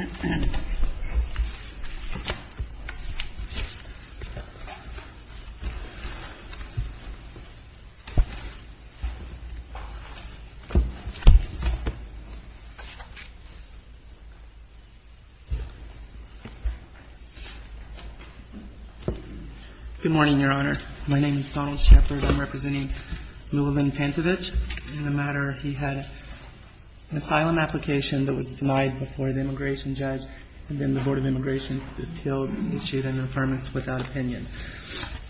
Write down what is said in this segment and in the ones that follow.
Good morning, Your Honor. My name is Donald Shepard. I'm representing Llewellyn Pantovic. In the matter, he had an asylum application that was denied before the immigration judge and then the Board of Immigration Appeals issued an affirmance without opinion.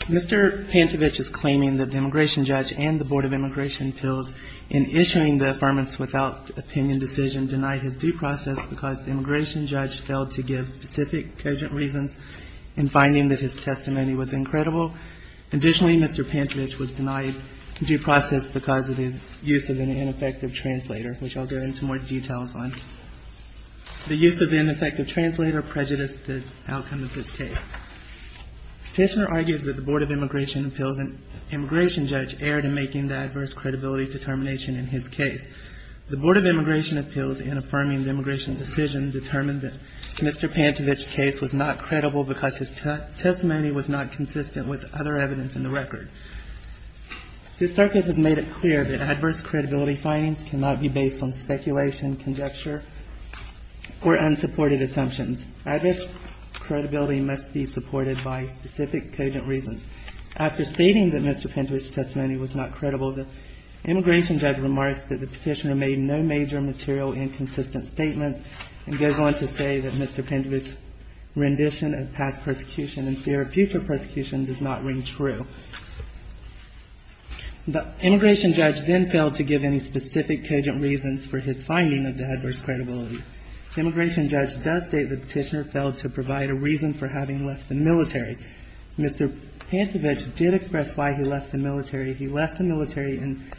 Mr. Pantovic is claiming that the immigration judge and the Board of Immigration Appeals in issuing the affirmance without opinion decision denied his due process because the immigration judge failed to give specific cogent reasons in finding that his testimony was incredible. Additionally, Mr. Pantovic was denied due process because of the use of an ineffective translator, which I'll go into more details on. The use of the ineffective translator prejudiced the outcome of this case. The petitioner argues that the Board of Immigration Appeals and immigration judge erred in making the adverse credibility determination in his case. The Board of Immigration Appeals, in affirming the immigration decision, determined that Mr. Pantovic's case was not credible because his testimony was not consistent with other evidence in the record. This circuit has made it clear that adverse credibility findings cannot be based on speculation, conjecture, or unsupported assumptions. Adverse credibility must be supported by specific cogent reasons. After stating that Mr. Pantovic's testimony was not credible, the immigration judge remarks that the petitioner made no major material inconsistent statements and goes on to say that Mr. Pantovic's rendition of past persecution and fear of future persecution does not ring true. The immigration judge then failed to give any specific cogent reasons for his finding of the adverse credibility. The immigration judge does state the petitioner failed to provide a reason for having left the military. Mr. Pantovic did express why he left the military. He left the military in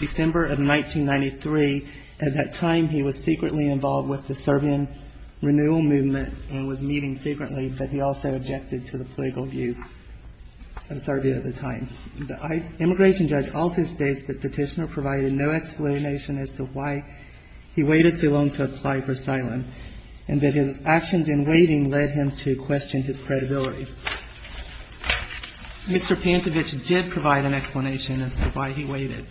December of 1993. At that time, he was secretly involved with the Serbian renewal movement and was meeting secretly, but he also objected to the political views of Serbia at the time. The immigration judge also states that the petitioner provided no explanation as to why he waited so long to apply for asylum and that his actions in waiting led him to question his credibility. Mr. Pantovic did provide an explanation as to why he waited.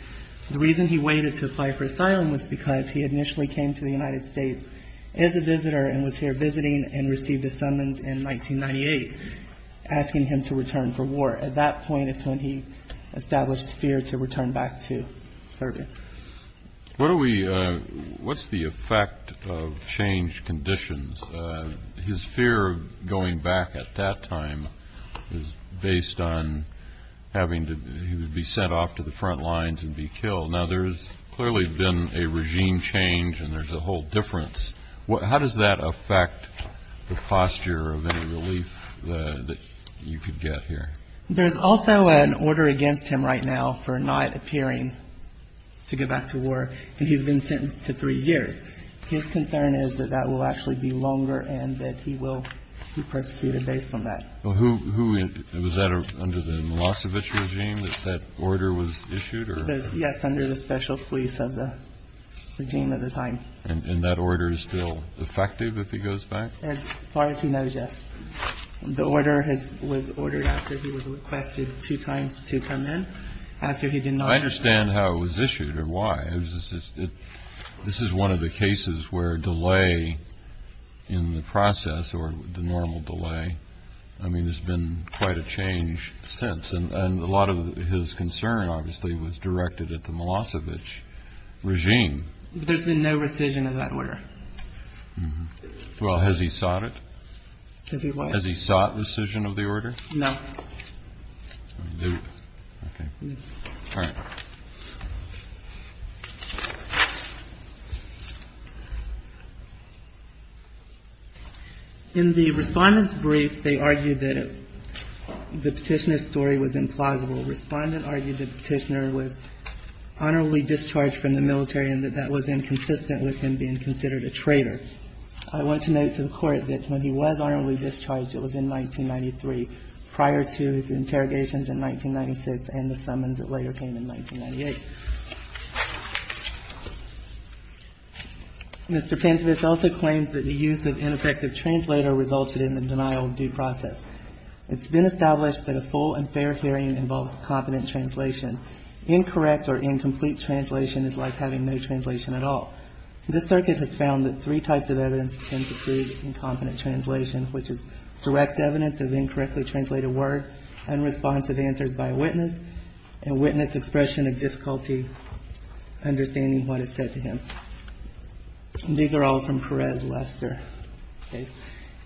The reason he waited to apply for asylum was because he initially came to the United States as a visitor and was here visiting and received a summons in 1998 asking him to return for war. At that point is when he established fear to return back to Serbia. What are we what's the effect of changed conditions? His fear of going back at that time is based on having to be sent off to the front lines and be killed. Now, there's clearly been a regime change and there's a whole difference. How does that affect the posture of any relief that you could get here? There's also an order against him right now for not appearing to go back to war, and he's been sentenced to three years. His concern is that that will actually be longer and that he will be persecuted based on that. Was that under the Milosevic regime that that order was issued? Yes, under the special police of the regime at the time. And that order is still effective if he goes back? As far as he knows, yes. The order was ordered after he was requested two times to come in after he did not. I understand how it was issued or why. This is one of the cases where delay in the process or the normal delay. I mean, there's been quite a change since. And a lot of his concern obviously was directed at the Milosevic regime. There's been no rescission of that order. Well, has he sought it? Has he what? Has he sought rescission of the order? No. Okay. All right. In the Respondent's brief, they argued that the petitioner's story was implausible. Respondent argued that the petitioner was honorably discharged from the military and that that was inconsistent with him being considered a traitor. I want to note to the Court that when he was honorably discharged, it was in 1993. Prior to the interrogations in 1996 and the summons, it later came in 1998. Mr. Pintovich also claims that the use of ineffective translator resulted in the denial of due process. It's been established that a full and fair hearing involves competent translation. Incorrect or incomplete translation is like having no translation at all. This circuit has found that three types of evidence tend to prove incompetent translation, which is direct evidence of incorrectly translated word, unresponsive answers by a witness, and witness expression of difficulty understanding what is said to him. These are all from Perez Lester.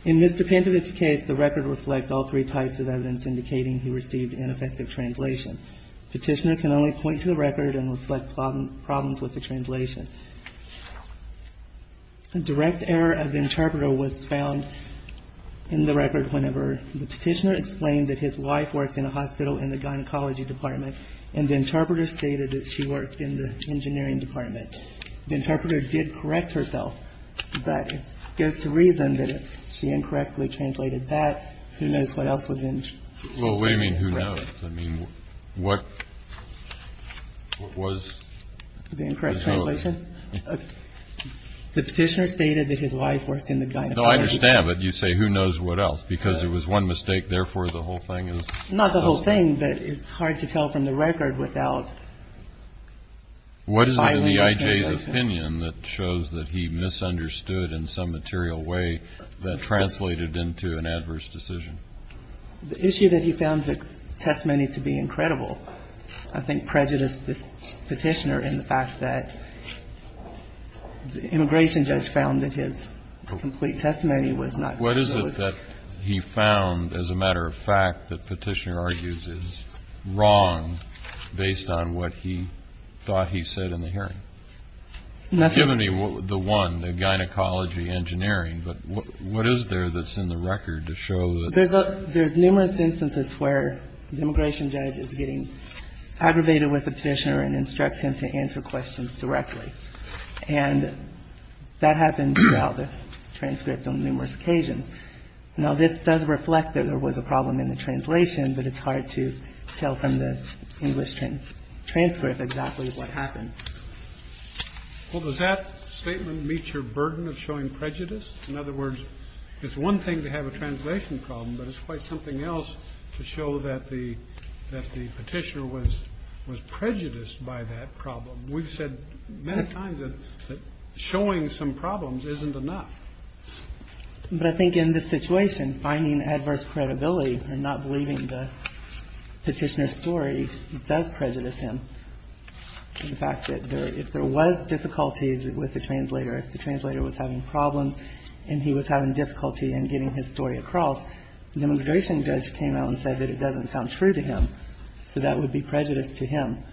In Mr. Pintovich's case, the record reflect all three types of evidence indicating he received ineffective translation. Petitioner can only point to the record and reflect problems with the translation. A direct error of the interpreter was found in the record whenever the petitioner explained that his wife worked in a hospital in the gynecology department and the interpreter stated that she worked in the engineering department. The interpreter did correct herself, but it goes to reason that she incorrectly translated that. Who knows what else was incorrect. Well, what do you mean who knows? I mean, what was the correct translation? The petitioner stated that his wife worked in the gynecology department. No, I understand, but you say who knows what else because it was one mistake, therefore, the whole thing is. Not the whole thing, but it's hard to tell from the record without. What is it in the I.J.'s opinion that shows that he misunderstood in some material way that translated into an adverse decision? The issue that he found the testimony to be incredible, I think, prejudiced the petitioner in the fact that the immigration judge found that his complete testimony was not. What is it that he found, as a matter of fact, that Petitioner argues is wrong based on what he thought he said in the hearing? Give me the one, the gynecology engineering, but what is there that's in the record to show that. There's numerous instances where the immigration judge is getting aggravated with the petitioner and instructs him to answer questions directly. And that happened throughout the transcript on numerous occasions. Now, this does reflect that there was a problem in the translation, but it's hard to tell from the English transcript exactly what happened. Well, does that statement meet your burden of showing prejudice? In other words, it's one thing to have a translation problem, but it's quite something else to show that the Petitioner was prejudiced by that problem. We've said many times that showing some problems isn't enough. But I think in this situation, finding adverse credibility or not believing the Petitioner's story does prejudice him. The fact that if there was difficulties with the translator, if the translator was having problems and he was having difficulty in getting his story across, the immigration judge came out and said that it doesn't sound true to him. So that would be prejudice to him.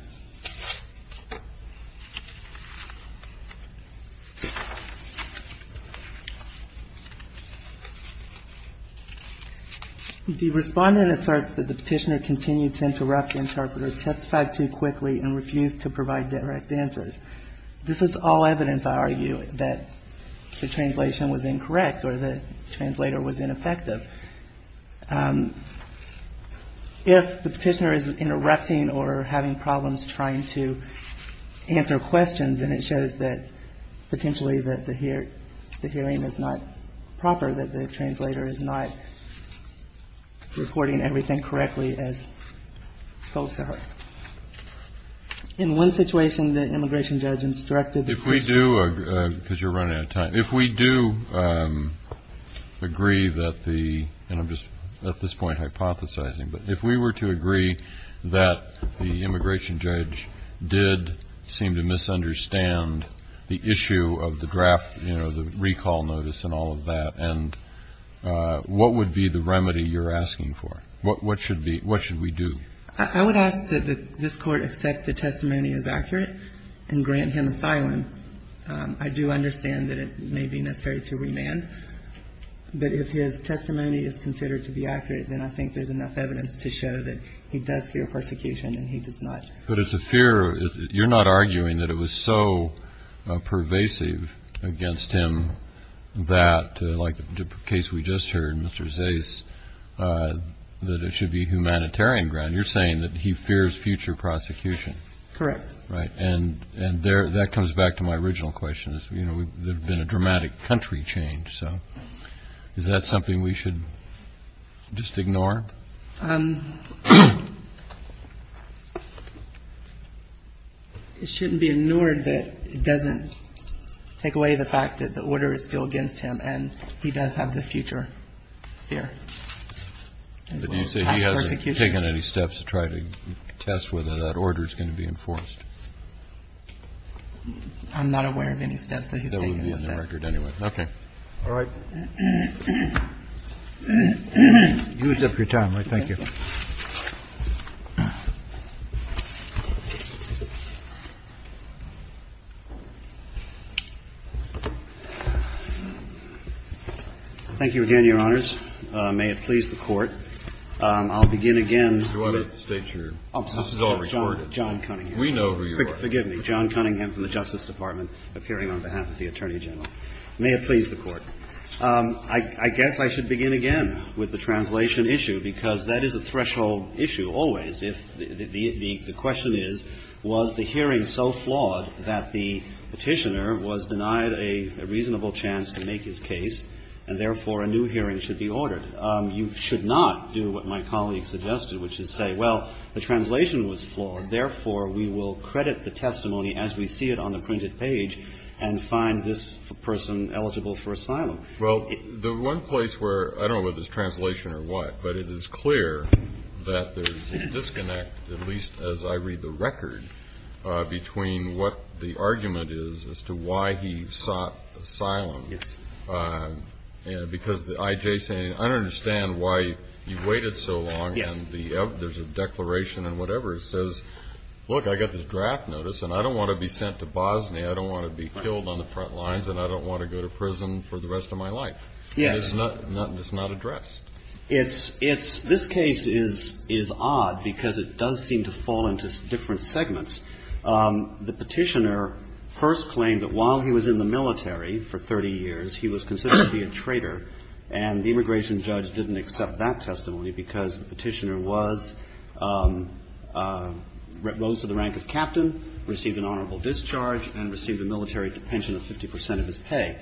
The Respondent asserts that the Petitioner continued to interrupt the interpreter, testified too quickly, and refused to provide direct answers. This is all evidence, I argue, that the translation was incorrect or the translator was ineffective. If the Petitioner is interrupting or having problems with the interpreter, if the Petitioner is having problems trying to answer questions and it shows that potentially that the hearing is not proper, that the translator is not reporting everything correctly as told to her. In one situation, the immigration judge instructed the Petitioner. If we do, because you're running out of time, if we do agree that the, and I'm just at this point hypothesizing, but if we were to agree that the immigration judge did seem to misunderstand the issue of the draft, you know, the recall notice and all of that, and what would be the remedy you're asking for? What should we do? I would ask that this Court accept the testimony as accurate and grant him asylum. I do understand that it may be necessary to remand. But if his testimony is considered to be accurate, then I think there's enough evidence to show that he does fear prosecution and he does not. But it's a fear. You're not arguing that it was so pervasive against him that, like the case we just heard, Mr. Zais, that it should be humanitarian ground. You're saying that he fears future prosecution. Correct. Right. And that comes back to my original question. You know, there's been a dramatic country change. So is that something we should just ignore? It shouldn't be ignored, but it doesn't take away the fact that the order is still against him and he does have the future fear. But you say he hasn't taken any steps to try to test whether that order is going to be enforced? I'm not aware of any steps that he's taken with that. Okay. All right. You used up your time. I thank you. Thank you again, Your Honors. May it please the Court. I'll begin again. Do I have to state your name? This is all recorded. John Cunningham. We know who you are. Forgive me. John Cunningham from the Justice Department, appearing on behalf of the Attorney General. May it please the Court. I guess I should begin again with the translation issue, because that is a threshold issue always. If the question is, was the hearing so flawed that the Petitioner was denied a reasonable chance to make his case, and therefore a new hearing should be ordered, you should not do what my colleague suggested, which is say, well, the translation was flawed, therefore we will credit the testimony as we see it on the printed page and find this person eligible for asylum. Well, the one place where I don't know whether it's translation or what, but it is clear that there is a disconnect, at least as I read the record, between what the argument is as to why he sought asylum. Yes. Because the I.J. saying, I don't understand why you waited so long. Yes. And there's a declaration and whatever. It says, look, I got this draft notice, and I don't want to be sent to Bosnia. I don't want to be killed on the front lines, and I don't want to go to prison for the rest of my life. Yes. And it's not addressed. It's – this case is odd, because it does seem to fall into different segments. The petitioner first claimed that while he was in the military for 30 years, he was considered to be a traitor, and the immigration judge didn't accept that testimony because the petitioner was – rose to the rank of captain, received an honorable discharge, and received a military pension of 50 percent of his pay.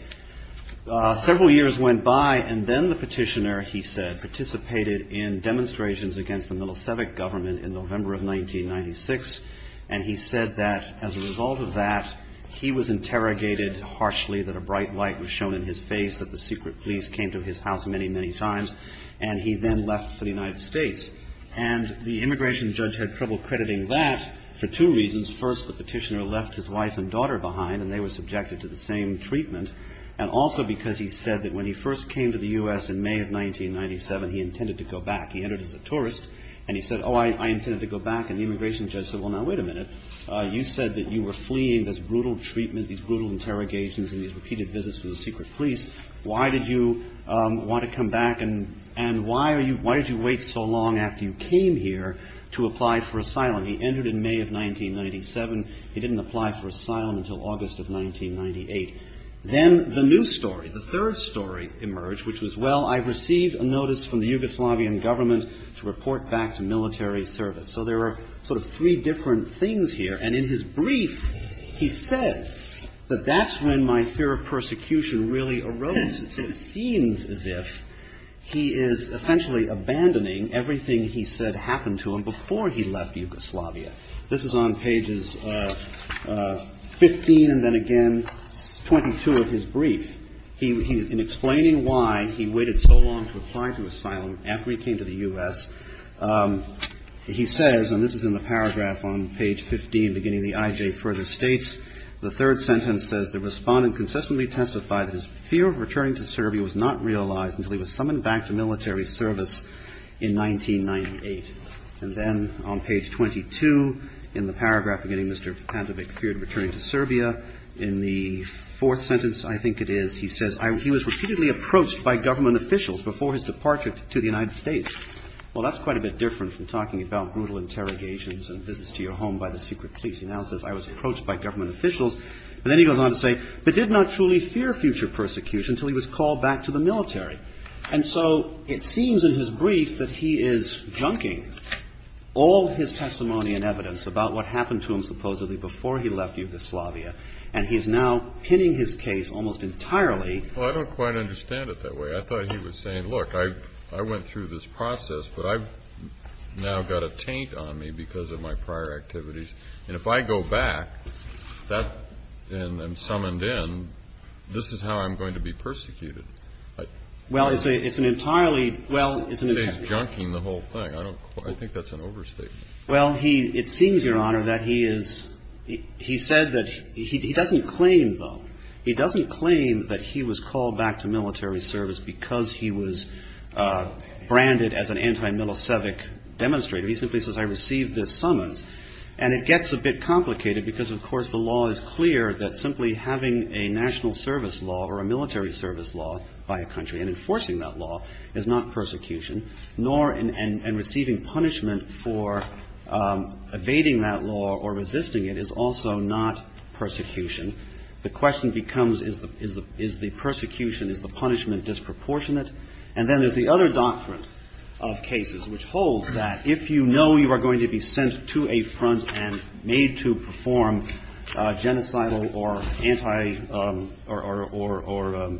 Several years went by, and then the petitioner, he said, participated in demonstrations against the Milosevic government in November of 1996, and he said that as a result of that, he was interrogated harshly, that a bright light was shown in his face, that the secret police came to his house many, many times, and he then left for the United States. And the immigration judge had trouble crediting that for two reasons. First, the petitioner left his wife and daughter behind, and they were subjected to the same treatment, and also because he said that when he first came to the U.S. in May of 1997, he intended to go back. He entered as a tourist, and he said, oh, I intended to go back. And the immigration judge said, well, now wait a minute. You said that you were fleeing this brutal treatment, these brutal interrogations, and these repeated visits to the secret police. Why did you want to come back, and why are you – why did you wait so long after you came here to apply for asylum? He entered in May of 1997. He didn't apply for asylum until August of 1998. Then the new story, the third story emerged, which was, well, I received a notice from the Yugoslavian government to report back to military service. So there are sort of three different things here. And in his brief, he says that that's when my fear of persecution really arose. It seems as if he is essentially abandoning everything he said happened to him before he left Yugoslavia. This is on pages 15 and then again 22 of his brief. In explaining why he waited so long to apply to asylum after he came to the U.S., he says, and this is in the paragraph on page 15 beginning the IJ further states, the third sentence says, The Respondent consistently testified that his fear of returning to Serbia was not realized until he was summoned back to military service in 1998. And then on page 22 in the paragraph beginning, Mr. Pantevic feared returning to Serbia. In the fourth sentence, I think it is, he says, He was repeatedly approached by government officials before his departure to the United States. Well, that's quite a bit different from talking about brutal interrogations and visits to your home by the secret police. He now says, I was approached by government officials. And then he goes on to say, But did not truly fear future persecution until he was called back to the military. And so it seems in his brief that he is junking all his testimony and evidence about what happened to him supposedly before he left Yugoslavia. And he is now pinning his case almost entirely. Well, I don't quite understand it that way. I thought he was saying, look, I went through this process, but I've now got a taint on me because of my prior activities. And if I go back, and I'm summoned in, this is how I'm going to be persecuted. Well, it's an entirely, well, it's an entirely. He's junking the whole thing. I think that's an overstatement. Well, he, it seems, Your Honor, that he is, he said that, he doesn't claim, though, he doesn't claim that he was called back to military service because he was branded as an anti-Milosevic demonstrator. He simply says, I received this summons. And it gets a bit complicated because, of course, the law is clear that simply having a national service law or a military service law by a country and enforcing that law is not persecution, nor, and receiving punishment for evading that law or resisting it is also not persecution. The question becomes, is the persecution, is the punishment disproportionate? And then there's the other doctrine of cases, which holds that if you know you are going to be sent to a front and made to perform genocidal or anti or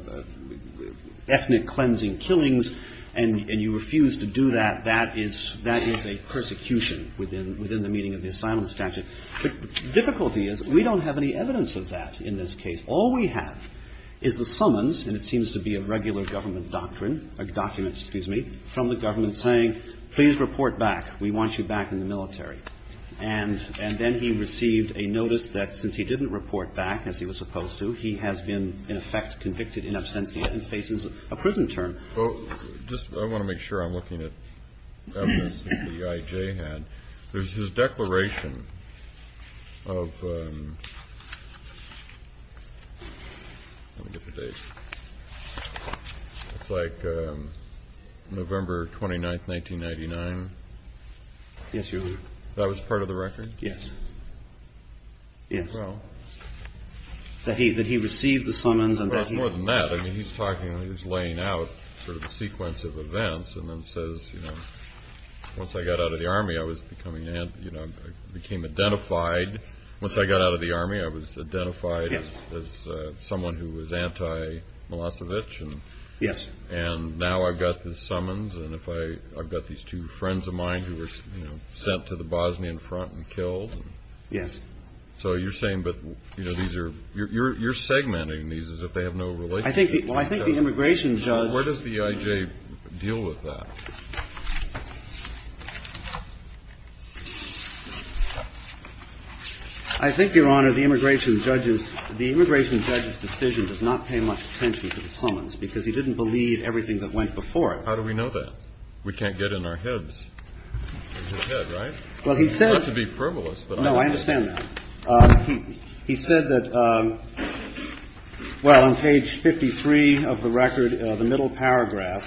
ethnic cleansing killings and you refuse to do that, that is a persecution within the meaning of the asylum statute. The difficulty is we don't have any evidence of that in this case. All we have is the summons, and it seems to be a regular government doctrine or document, excuse me, from the government saying, please report back. We want you back in the military. And then he received a notice that since he didn't report back, as he was supposed to, he has been in effect convicted in absentia and faces a prison term. Well, just I want to make sure I'm looking at evidence that the IJ had. There's his declaration of, let me get the date. It's like November 29th, 1999. Yes, Your Honor. That was part of the record? Yes. Yes. Well. That he received the summons and that he. Well, it's more than that. I mean, he's talking, he was laying out sort of a sequence of events and then says, you know, once I got out of the army, I was becoming, you know, I became identified. Once I got out of the army, I was identified as someone who was anti Milosevic. Yes. And now I've got the summons. And if I, I've got these two friends of mine who were sent to the Bosnian front and killed. Yes. So you're saying that, you know, these are, you're segmenting these as if they have no relationship. I think, well, I think the immigration judge. Where does the IJ deal with that? I think, Your Honor, the immigration judge's, the immigration judge's decision does not pay much attention to the summons because he didn't believe everything that went before it. How do we know that? We can't get in our heads. Well, he said. You don't have to be frivolous. No, I understand that. He said that, well, on page 53 of the record, the middle paragraph,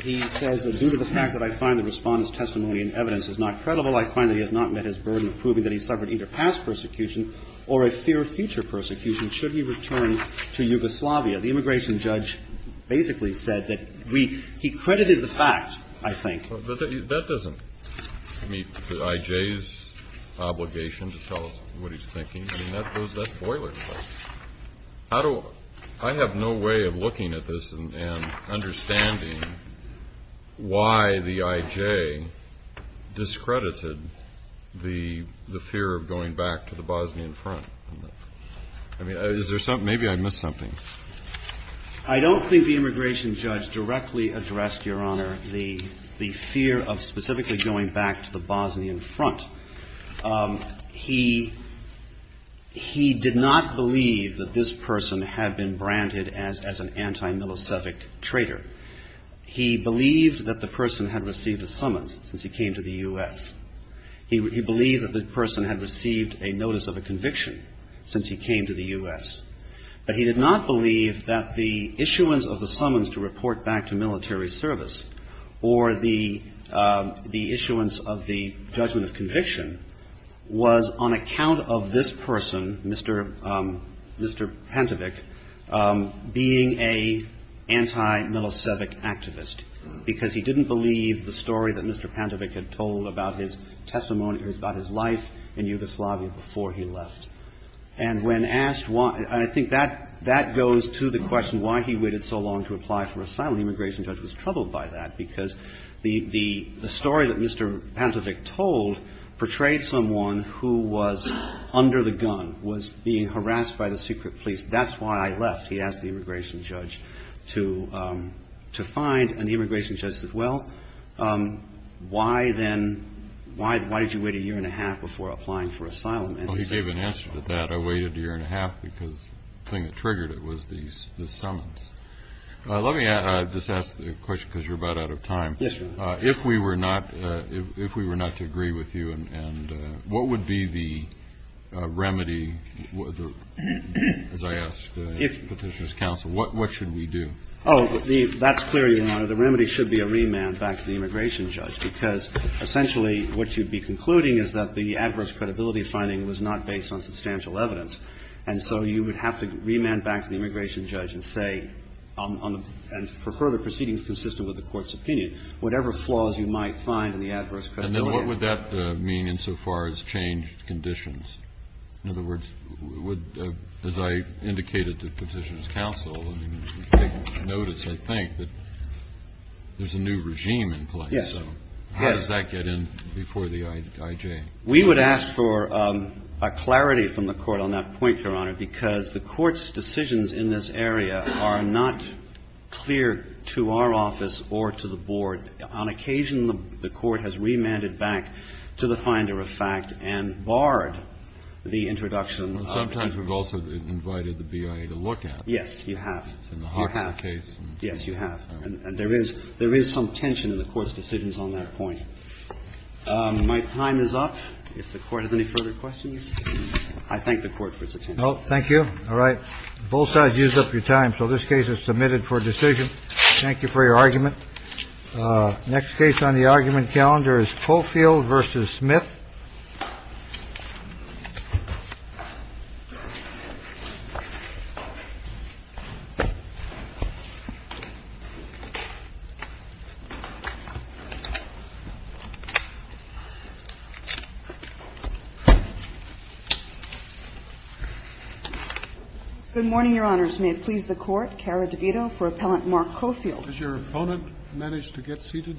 he says that due to the fact that I find the Respondent's testimony and evidence is not credible, I find that he has not met his burden of proving that he suffered either past persecution or a fear of future persecution should he return to Yugoslavia. The immigration judge basically said that we, he credited the fact, I think. That doesn't meet the IJ's obligation to tell us what he's thinking. I mean, that goes, that's boilerplate. How do, I have no way of looking at this and understanding why the IJ discredited the fear of going back to the Bosnian front. I mean, is there something, maybe I missed something. I don't think the immigration judge directly addressed, Your Honor, the fear of specifically going back to the Bosnian front. He did not believe that this person had been branded as an anti-Milosevic traitor. He believed that the person had received a summons since he came to the U.S. He believed that the person had received a notice of a conviction since he came to the U.S. But he did not believe that the issuance of the summons to report back to military service or the issuance of the judgment of conviction was on account of this person, Mr. Pantevic, being a anti-Milosevic activist. Because he didn't believe the story that Mr. Pantevic had told about his testimony, about his life in Yugoslavia before he left. And when asked why, I think that goes to the question why he waited so long to apply for asylum. The immigration judge was troubled by that because the story that Mr. Pantevic told portrayed someone who was under the gun, was being harassed by the secret police. That's why I left, he asked the immigration judge to find. And the immigration judge said, well, why then, why did you wait a year and a half before applying for asylum? Well, he gave an answer to that. I waited a year and a half because the thing that triggered it was the summons. Let me just ask the question, because you're about out of time. Yes, Your Honor. If we were not to agree with you, and what would be the remedy, as I asked Petitioner's counsel, what should we do? Oh, that's clear, Your Honor. The remedy should be a remand back to the immigration judge. Because essentially, what you'd be concluding is that the adverse credibility finding was not based on substantial evidence. And so you would have to remand back to the immigration judge and say on the – and for further proceedings consistent with the Court's opinion, whatever flaws you might find in the adverse credibility finding. And then what would that mean insofar as changed conditions? In other words, would – as I indicated to Petitioner's counsel, I mean, take notice, I think, that there's a new regime in place. Yes. So how does that get in before the IJ? We would ask for clarity from the Court on that point, Your Honor, because the Court's decisions in this area are not clear to our office or to the Board. On occasion, the Court has remanded back to the finder of fact and barred the introduction of – Well, sometimes we've also invited the BIA to look at it. Yes, you have. In the Hawthorne case. You have. Yes, you have. And there is – there is some tension in the Court's decisions on that point. My time is up. If the Court has any further questions, I thank the Court for its attention. Thank you. All right. Both sides used up your time, so this case is submitted for decision. Thank you for your argument. Next case on the argument calendar is Coffield v. Smith. Good morning, Your Honors. May it please the Court, Cara DeVito for Appellant Mark Coffield. Has your opponent managed to get seated yet?